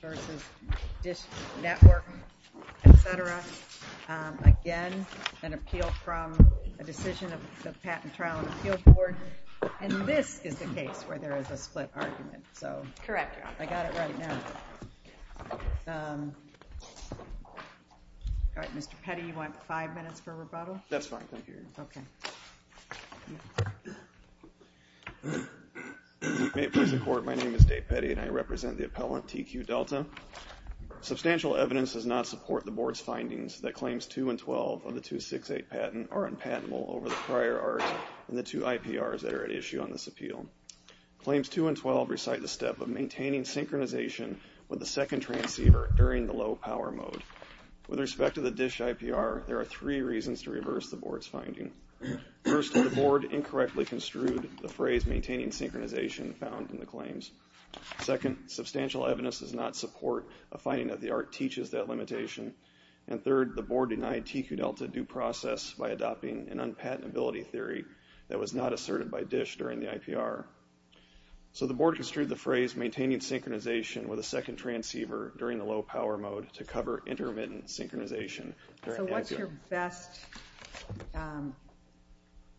versus DISH Network, etc. Again, an appeal from a decision of the Patent Trial and Appeal Board. And this is the case where there is a split argument, so I got it right now. Mr. Petty, you want five minutes for rebuttal? That's fine, thank you. May it please the Court, my name is Dave Petty and I represent the appellant, TQ Delta. Substantial evidence does not support the Board's findings that Claims 2 and 12 of the 268 patent are unpatentable over the prior art and the two IPRs that are at issue on this appeal. Claims 2 and 12 recite the step of maintaining synchronization with the second transceiver during the low power mode. With respect to the DISH IPR, there are three reasons to reverse the Board's finding. First, the Board incorrectly construed the phrase maintaining synchronization found in the claims. Second, substantial evidence does not support a finding that the art teaches that limitation. And third, the Board denied TQ Delta due process by adopting an unpatentability theory that was not asserted by DISH during the IPR. So the Board construed the phrase maintaining synchronization with a second transceiver during the low power mode to cover intermittent synchronization. So what's your best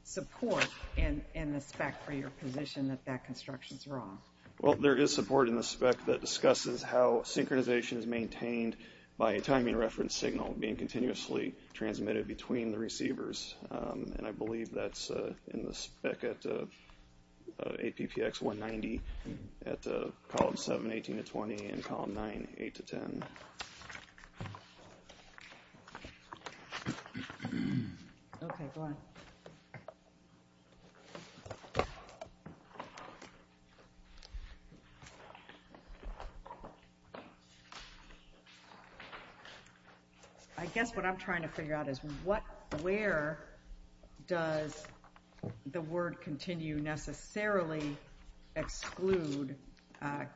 support in the spec for your position that that construction is wrong? Well, there is support in the spec that discusses how synchronization is maintained by a timing reference signal being continuously transmitted between the receivers and I believe that's in the spec at APPX 190 at column 7, 18 to 20 and column 9, 8 to 10. I guess what I'm trying to figure out is where does the word continue necessarily exclude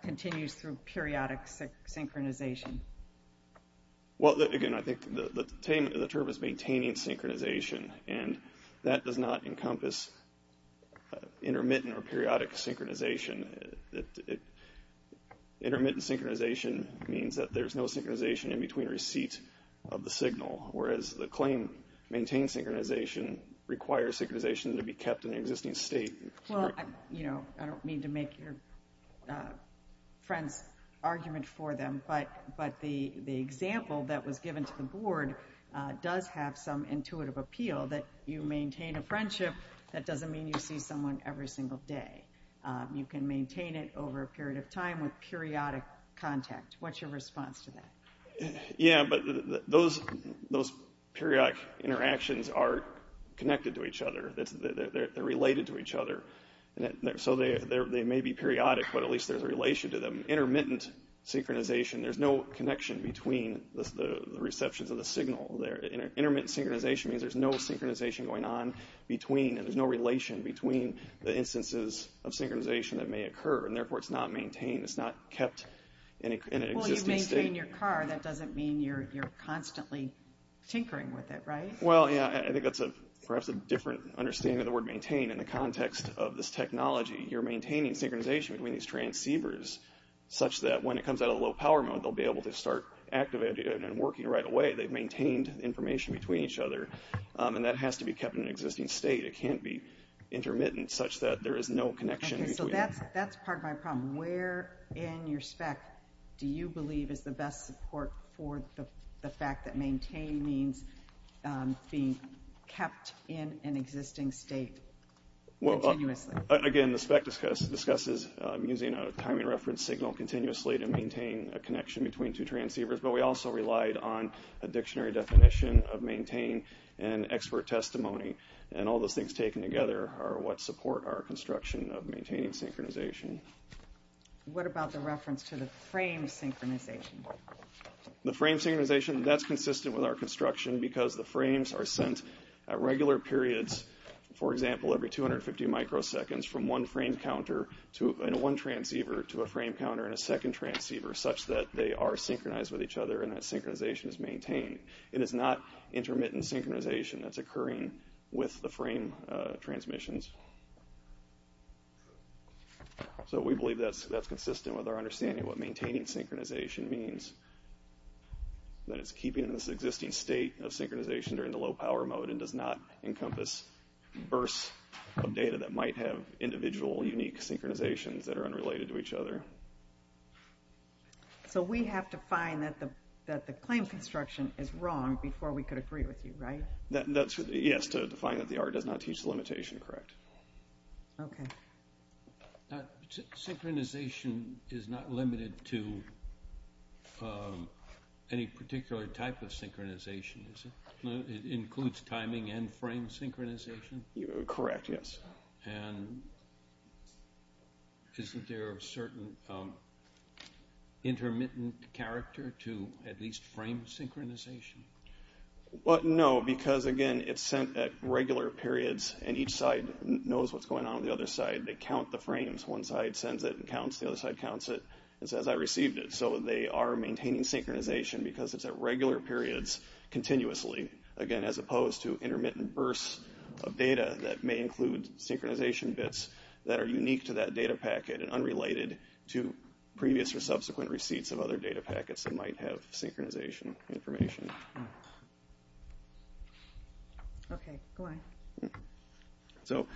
continues through periodic synchronization? Well, again, I think the term is maintaining synchronization and that does not encompass intermittent or periodic synchronization. Intermittent synchronization means that there's no synchronization in between receipts of the signal, whereas the claim maintain synchronization requires synchronization to be kept in an existing state. Well, I don't mean to make your friend's argument for them, but the example that was given to the Board does have some intuitive appeal that you maintain a friendship, that doesn't mean you see someone every single day. You can maintain it over a period of time with periodic contact. What's your response to that? Yeah, but those periodic interactions are connected to each other. They're related to each other. So they may be periodic, but at least there's a relation to them. Intermittent synchronization, there's no connection between the receptions of the signal. Intermittent synchronization means there's no synchronization going on between and there's no relation between the instances of synchronization that may occur and therefore it's not maintained. It's not kept in an existing state. Well, you maintain your car, that doesn't mean you're constantly tinkering with it, right? Well, yeah, I think that's perhaps a different understanding of the word maintain in the context of this technology. You're maintaining synchronization between these transceivers such that when it comes out of low power mode, they'll be able to start activating and working right away. They've maintained information between each other and that has to be kept in an existing state. It can't be intermittent such that there is no connection between them. That's part of my problem. Where in your spec do you believe is the best support for the fact that maintain means being kept in an existing state continuously? Again, the spec discusses using a timing reference signal continuously to maintain a connection between two transceivers, but we also relied on a dictionary definition of maintain and expert testimony and all those things taken together are what support our construction of maintaining synchronization. What about the reference to the frame synchronization? The frame synchronization, that's consistent with our construction because the frames are sent at regular periods, for example, every 250 microseconds from one frame counter in one transceiver to a frame counter in a second transceiver such that they are synchronized with each other and that synchronization is maintained. It is not intermittent synchronization that's occurring with the frame transmissions. So we believe that's consistent with our understanding of what maintaining synchronization means. That it's keeping this existing state of synchronization during the low power mode and does not encompass bursts of data that might have individual unique synchronizations that are unrelated to each other. So we have to find that the claim construction is wrong before we can agree with you, right? Yes, to find that the R does not teach the limitation, correct. Okay. Synchronization is not limited to any particular type of synchronization, is it? It includes timing and frame synchronization? Correct, yes. And isn't there a certain intermittent character to at least frame synchronization? No, because again, it's sent at regular periods and each side knows what's going on on the other side. They count the frames. One side sends it and counts. The other side counts it and says, I received it. So they are maintaining synchronization because it's at regular periods continuously. Again, as opposed to intermittent bursts of data that may include synchronization bits that are unique to that data packet and unrelated to previous or subsequent receipts of other data packets that might have synchronization information. Okay, go on. So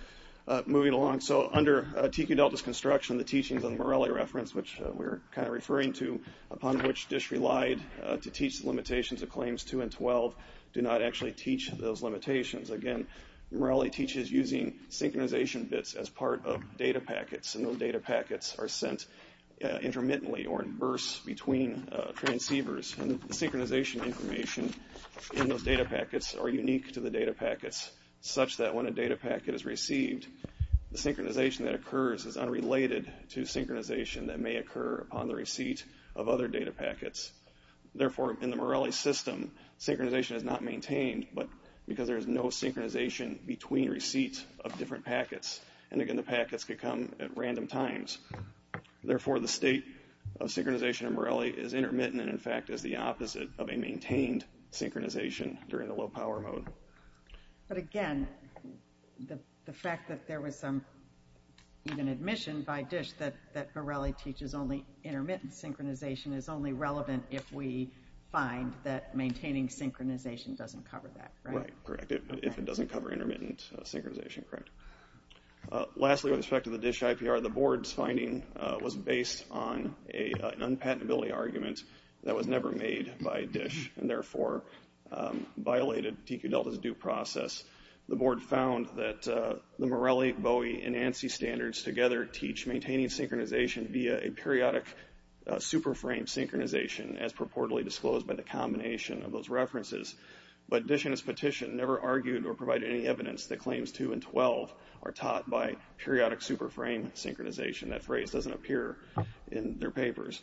moving along. So under TQ Delta's construction, the teachings of the Morelli reference, which we're kind of referring to, upon which DISH relied to teach the limitations of claims 2 and 12, do not actually teach those limitations. Again, Morelli teaches using synchronization bits as part of data packets, and those data packets are sent intermittently or in bursts between transceivers. And the synchronization information in those data packets are unique to the data packets, such that when a data packet is received, the synchronization that occurs is unrelated to synchronization that may occur upon the receipt of other data packets. Therefore, in the Morelli system, synchronization is not maintained because there is no synchronization between receipts of different packets. And again, the packets could come at random times. Therefore, the state of synchronization in Morelli is intermittent, in fact, is the opposite of a maintained synchronization during the low-power mode. But again, the fact that there was some even admission by DISH that Morelli teaches only intermittent synchronization is only relevant if we find that maintaining synchronization doesn't cover that, right? Right, correct. If it doesn't cover intermittent synchronization, correct. Lastly, with respect to the DISH IPR, the board's finding was based on an unpatentability argument that was never made by DISH, and therefore violated TQ-Delta's due process. The board found that the Morelli, Bowie, and ANSI standards together teach maintaining synchronization via a periodic superframe synchronization, as purportedly disclosed by the combination of those references. But DISH and its petition never argued or provided any evidence that claims 2 and 12 are taught by periodic superframe synchronization. That phrase doesn't appear in their papers.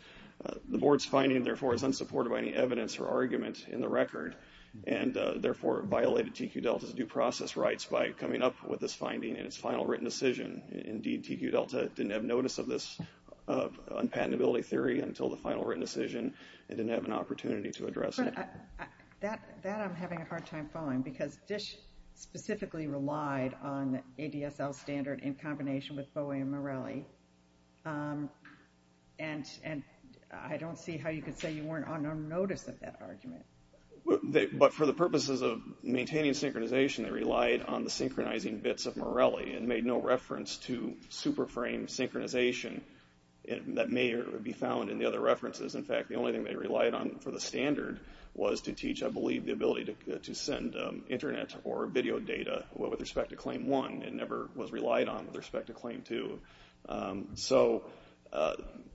The board's finding, therefore, is unsupported by any evidence or argument in the record, and therefore violated TQ-Delta's due process rights by coming up with this finding in its final written decision. Indeed, TQ-Delta didn't have notice of this unpatentability theory until the final written decision, and didn't have an opportunity to address it. That I'm having a hard time following, because DISH specifically relied on ADSL standard in combination with Bowie and Morelli, and I don't see how you could say you weren't on notice of that argument. But for the purposes of maintaining synchronization, they relied on the synchronizing bits of Morelli, and made no reference to superframe synchronization. That may be found in the other references. In fact, the only thing they relied on for the standard was to teach, I believe, the ability to send internet or video data with respect to claim 1. It never was relied on with respect to claim 2. So,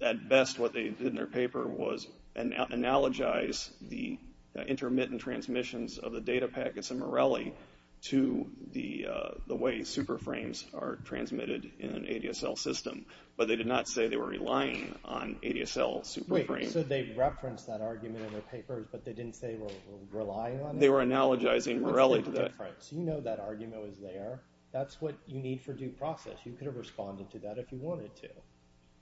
at best, what they did in their paper was analogize the intermittent transmissions of the data packets in Morelli to the way superframes are transmitted in an ADSL system. But they did not say they were relying on ADSL superframes. Wait, so they referenced that argument in their papers, but they didn't say they were relying on it? They were analogizing Morelli to that. You know that argument was there. That's what you need for due process. You could have responded to that if you wanted to.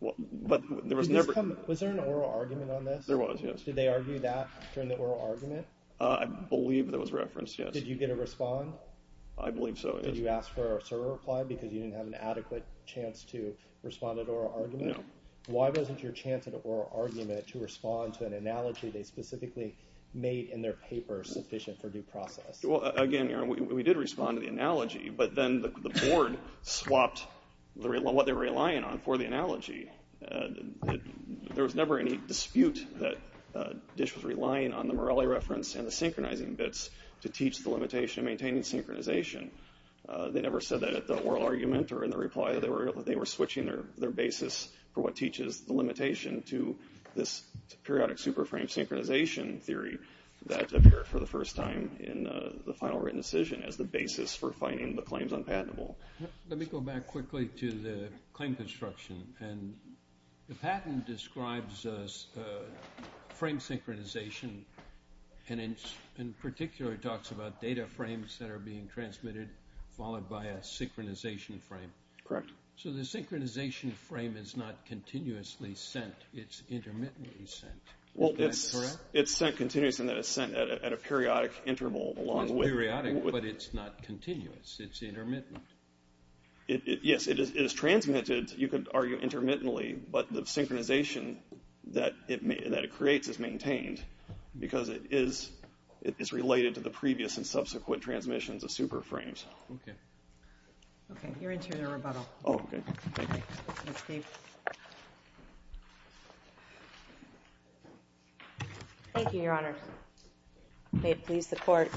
Was there an oral argument on this? There was, yes. Did they argue that during the oral argument? I believe there was reference, yes. Did you get a respond? I believe so, yes. Did you ask for a server reply because you didn't have an adequate chance to respond to an oral argument? No. Why wasn't your chance at an oral argument to respond to an analogy they specifically made in their paper sufficient for due process? Well, again, we did respond to the analogy, but then the board swapped what they were relying on for the analogy. There was never any dispute that DISH was relying on the Morelli reference and the synchronizing bits to teach the limitation of maintaining synchronization. They never said that at the oral argument or in the reply. They were switching their basis for what teaches the limitation to this periodic superframe synchronization theory that appeared for the first time in the final written decision as the basis for finding the claims unpatentable. Let me go back quickly to the claim construction. The patent describes frame synchronization and in particular talks about data frames that are being transmitted followed by a synchronization frame. Correct. So the synchronization frame is not continuously sent. It's intermittently sent. Well, it's sent continuously, and it's sent at a periodic interval along with it. It's periodic, but it's not continuous. It's intermittent. Yes, it is transmitted, you could argue, intermittently, but the synchronization that it creates is maintained because it is related to the previous and subsequent transmissions of superframes. Okay. Okay, you're into your rebuttal. Oh, okay. Thank you. Thank you, Your Honor. May it please the Court.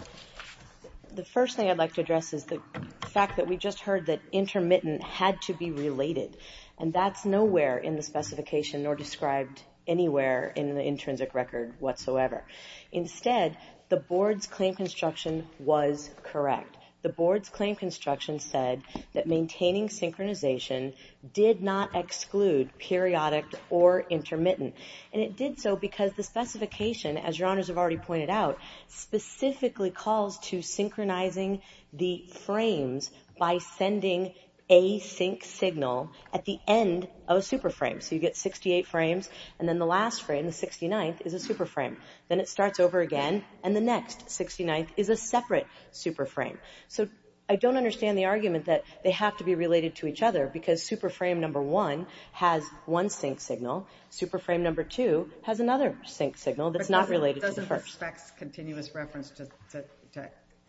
The first thing I'd like to address is the fact that we just heard that intermittent had to be related, and that's nowhere in the specification nor described anywhere in the intrinsic record whatsoever. Instead, the Board's claim construction was correct. The Board's claim construction said that maintaining synchronization did not exclude periodic or intermittent. And it did so because the specification, as Your Honors have already pointed out, specifically calls to synchronizing the frames by sending a sync signal at the end of a superframe. So you get 68 frames, and then the last frame, the 69th, is a superframe. Then it starts over again, and the next 69th is a separate superframe. So I don't understand the argument that they have to be related to each other because superframe number one has one sync signal. Superframe number two has another sync signal that's not related to the first. But doesn't the FACTS continuous reference to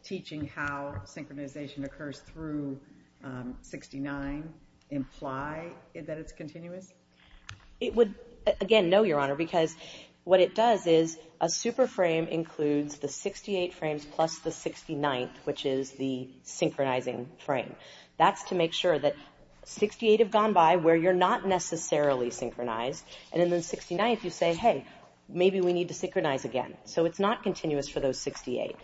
teaching how synchronization occurs through 69 imply that it's continuous? It would, again, no, Your Honor, because what it does is a superframe includes the 68 frames plus the 69th, which is the synchronizing frame. That's to make sure that 68 have gone by where you're not necessarily synchronized. And in the 69th, you say, hey, maybe we need to synchronize again. So it's not continuous for those 68.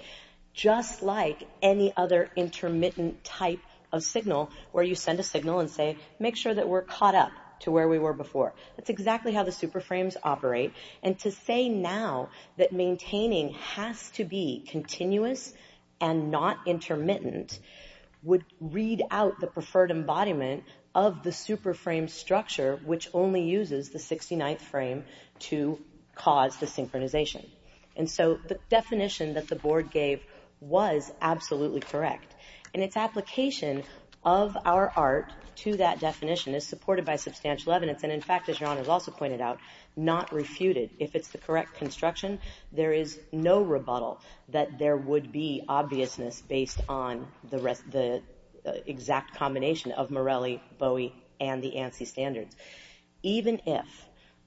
Just like any other intermittent type of signal where you send a signal and say, make sure that we're caught up to where we were before. That's exactly how the superframes operate. And to say now that maintaining has to be continuous and not intermittent would read out the preferred embodiment of the superframe structure, which only uses the 69th frame to cause the synchronization. And so the definition that the board gave was absolutely correct. And its application of our art to that definition is supported by substantial evidence. And in fact, as Your Honor has also pointed out, not refuted. If it's the correct construction, there is no rebuttal that there would be obviousness based on the exact combination of Morelli, Bowie, and the ANSI standards. Even if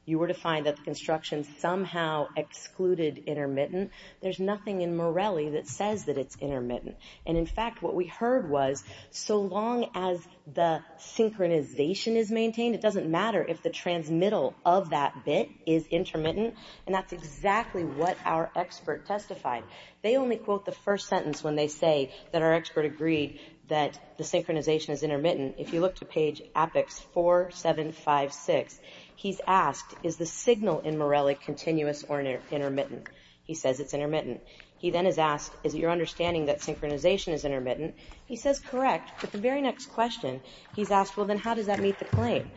you were to find that the construction somehow excluded intermittent, there's nothing in Morelli that says that it's intermittent. And in fact, what we heard was, so long as the synchronization is maintained, it doesn't matter if the transmittal of that bit is intermittent. And that's exactly what our expert testified. They only quote the first sentence when they say that our expert agreed that the synchronization is intermittent. If you look to page Apex 4756, he's asked, is the signal in Morelli continuous or intermittent? He says it's intermittent. He then is asked, is it your understanding that synchronization is intermittent? He says, correct. But the very next question, he's asked, well, then how does that meet the claim?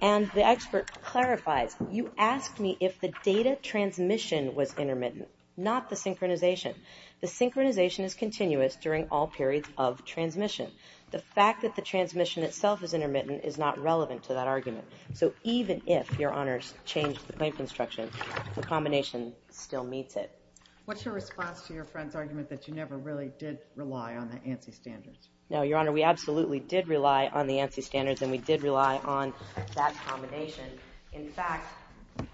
And the expert clarifies, you asked me if the data transmission was intermittent, not the synchronization. The synchronization is continuous during all periods of transmission. The fact that the transmission itself is intermittent is not relevant to that argument. So even if, Your Honor, changed the plane construction, the combination still meets it. What's your response to your friend's argument that you never really did rely on the ANSI standards? No, Your Honor, we absolutely did rely on the ANSI standards, and we did rely on that combination. In fact,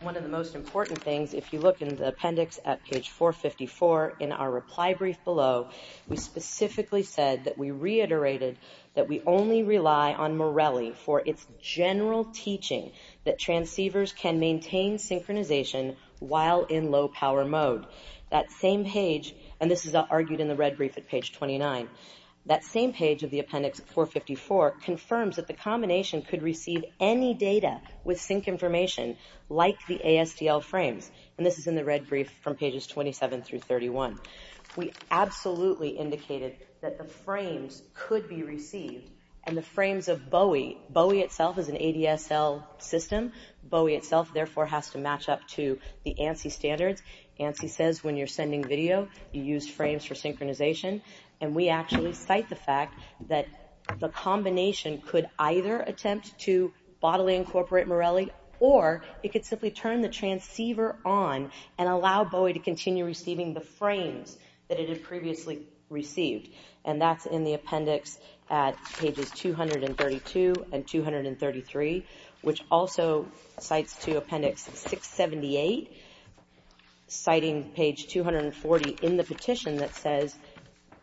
one of the most important things, if you look in the appendix at page 454 in our reply brief below, we specifically said that we reiterated that we only rely on Morelli for its general teaching that transceivers can maintain synchronization while in low-power mode. That same page, and this is argued in the red brief at page 29, that same page of the appendix at 454 confirms that the combination could receive any data with sync information, like the ASDL frames, and this is in the red brief from pages 27 through 31. We absolutely indicated that the frames could be received, and the frames of Bowie, Bowie itself is an ADSL system, Bowie itself therefore has to match up to the ANSI standards. ANSI says when you're sending video, you use frames for synchronization, and we actually cite the fact that the combination could either attempt to bodily incorporate Morelli, or it could simply turn the transceiver on and allow Bowie to continue receiving the frames that it had previously received, and that's in the appendix at pages 232 and 233, which also cites to appendix 678, citing page 240 in the petition that says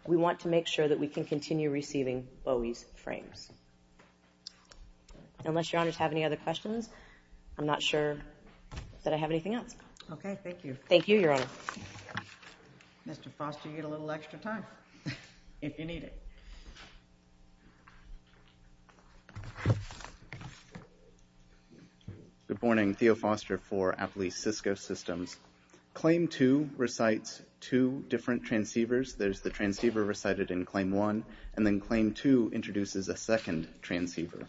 we want to make sure that we can continue receiving Bowie's frames. Unless your honors have any other questions, I'm not sure that I have anything else. Okay, thank you. Thank you, your honor. Mr. Foster, you get a little extra time if you need it. Good morning, Theo Foster for Appalachia Cisco Systems. Claim 2 recites two different transceivers. There's the transceiver recited in Claim 1, and then Claim 2 introduces a second transceiver.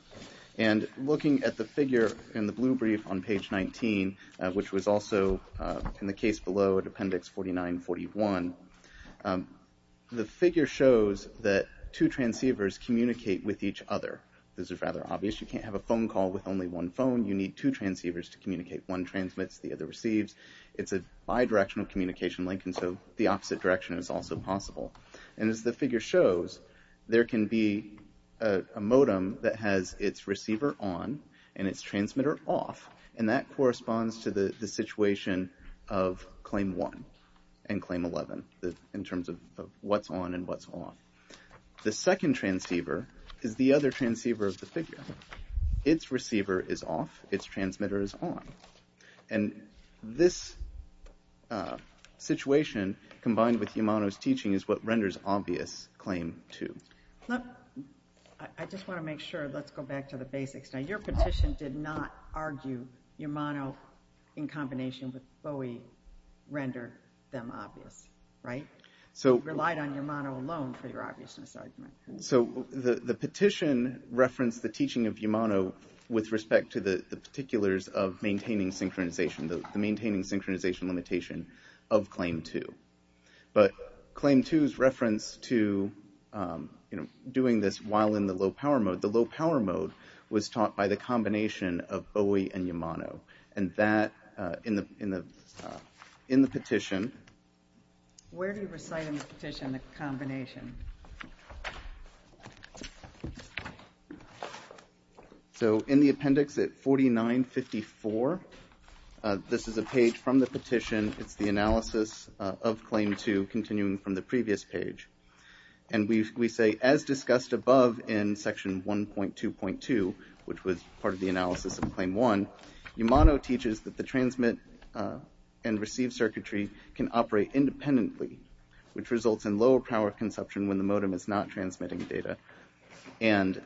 And looking at the figure in the blue brief on page 19, which was also in the case below at appendix 4941, the figure shows that two transceivers communicate with each other. This is rather obvious. You can't have a phone call with only one phone. You need two transceivers to communicate. One transmits, the other receives. It's a bidirectional communication link, and so the opposite direction is also possible. And as the figure shows, there can be a modem that has its receiver on and its transmitter off, and that corresponds to the situation of Claim 1 and Claim 11 in terms of what's on and what's off. The second transceiver is the other transceiver of the figure. Its receiver is off. Its transmitter is on. And this situation combined with Yamano's teaching is what renders obvious Claim 2. I just want to make sure. Let's go back to the basics. Now, your petition did not argue Yamano in combination with Bowie rendered them obvious, right? You relied on Yamano alone for your obviousness argument. So the petition referenced the teaching of Yamano with respect to the particulars of maintaining synchronization, the maintaining synchronization limitation of Claim 2. But Claim 2's reference to doing this while in the low-power mode, the low-power mode was taught by the combination of Bowie and Yamano, and that in the petition. Where do you recite in the petition the combination? So in the appendix at 4954, this is a page from the petition. It's the analysis of Claim 2 continuing from the previous page. And we say, as discussed above in Section 1.2.2, which was part of the analysis of Claim 1, Yamano teaches that the transmit and receive circuitry can operate independently, which results in lower power consumption when the modem is not transmitting data. And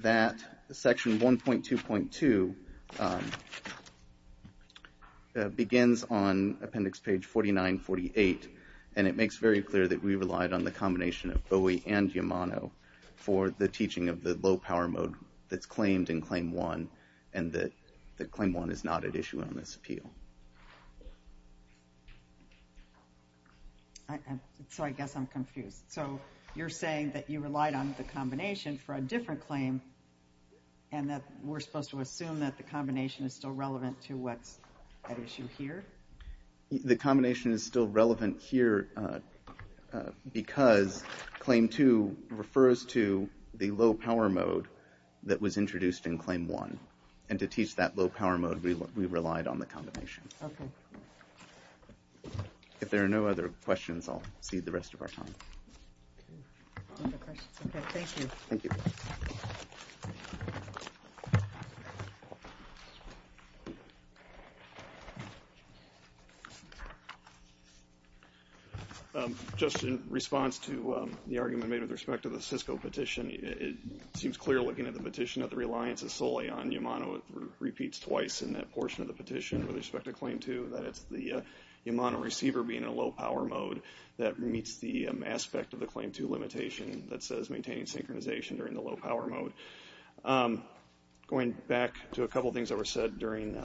that, Section 1.2.2, begins on appendix page 4948, and it makes very clear that we relied on the combination of Bowie and Yamano for the teaching of the low-power mode that's claimed in Claim 1 and that Claim 1 is not at issue on this appeal. So I guess I'm confused. So you're saying that you relied on the combination for a different claim and that we're supposed to assume that the combination is still relevant to what's at issue here? The combination is still relevant here because Claim 2 refers to the low-power mode that was introduced in Claim 1, and to teach that low-power mode, we relied on the combination. Okay. If there are no other questions, I'll cede the rest of our time. Okay, thank you. Thank you. Just in response to the argument made with respect to the Cisco petition, it seems clear looking at the petition that the reliance is solely on Yamano. It repeats twice in that portion of the petition with respect to Claim 2, that it's the Yamano receiver being in a low-power mode that meets the aspect of the Claim 2 limitation that says maintaining synchronization during the low-power mode. Going back to a couple of things that were said during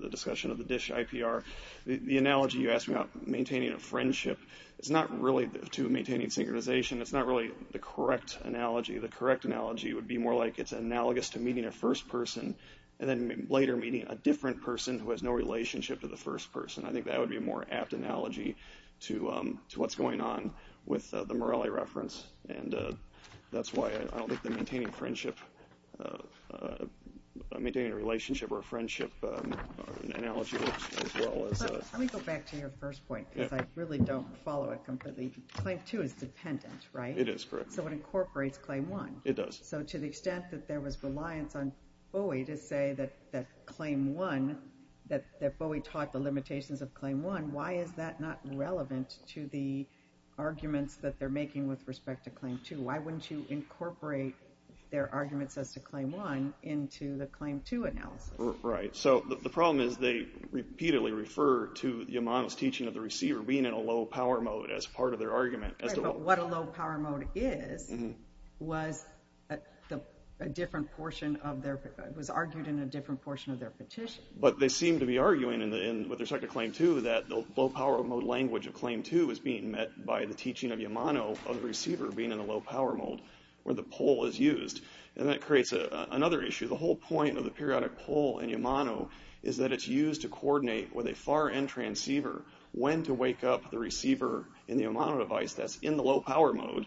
the discussion of the DISH IPR, the analogy you asked about maintaining a friendship is not really to maintaining synchronization. It's not really the correct analogy. The correct analogy would be more like it's analogous to meeting a first person and then later meeting a different person who has no relationship to the first person. I think that would be a more apt analogy to what's going on with the Morelli reference, and that's why I don't think the maintaining a relationship or a friendship analogy works as well. Let me go back to your first point because I really don't follow it completely. Claim 2 is dependent, right? It is, correct. So it incorporates Claim 1. It does. So to the extent that there was reliance on Bowie to say that Claim 1, that Bowie taught the limitations of Claim 1, why is that not relevant to the arguments that they're making with respect to Claim 2? Why wouldn't you incorporate their arguments as to Claim 1 into the Claim 2 analysis? Right. So the problem is they repeatedly refer to Yamano's teaching of the receiver being in a low-power mode as part of their argument. Right, but what a low-power mode is was argued in a different portion of their petition. But they seem to be arguing with respect to Claim 2 that the low-power mode language of Claim 2 is being met by the teaching of Yamano of the receiver being in a low-power mode where the pole is used, and that creates another issue. The whole point of the periodic pole in Yamano is that it's used to coordinate with a far-end transceiver when to wake up the receiver in the Yamano device that's in the low-power mode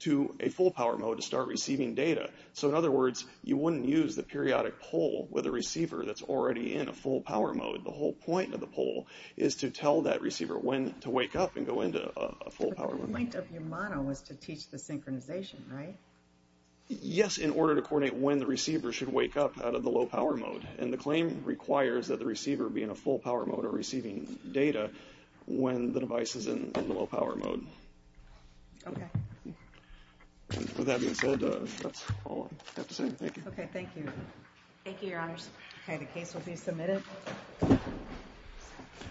to a full-power mode to start receiving data. So in other words, you wouldn't use the periodic pole with a receiver that's already in a full-power mode. The whole point of the pole is to tell that receiver when to wake up and go into a full-power mode. But the point of Yamano was to teach the synchronization, right? Yes, in order to coordinate when the receiver should wake up out of the low-power mode. And the claim requires that the receiver be in a full-power mode or receiving data when the device is in the low-power mode. Okay. With that being said, that's all I have to say. Thank you. Okay, thank you. Thank you, Your Honors. Okay, the case will be submitted.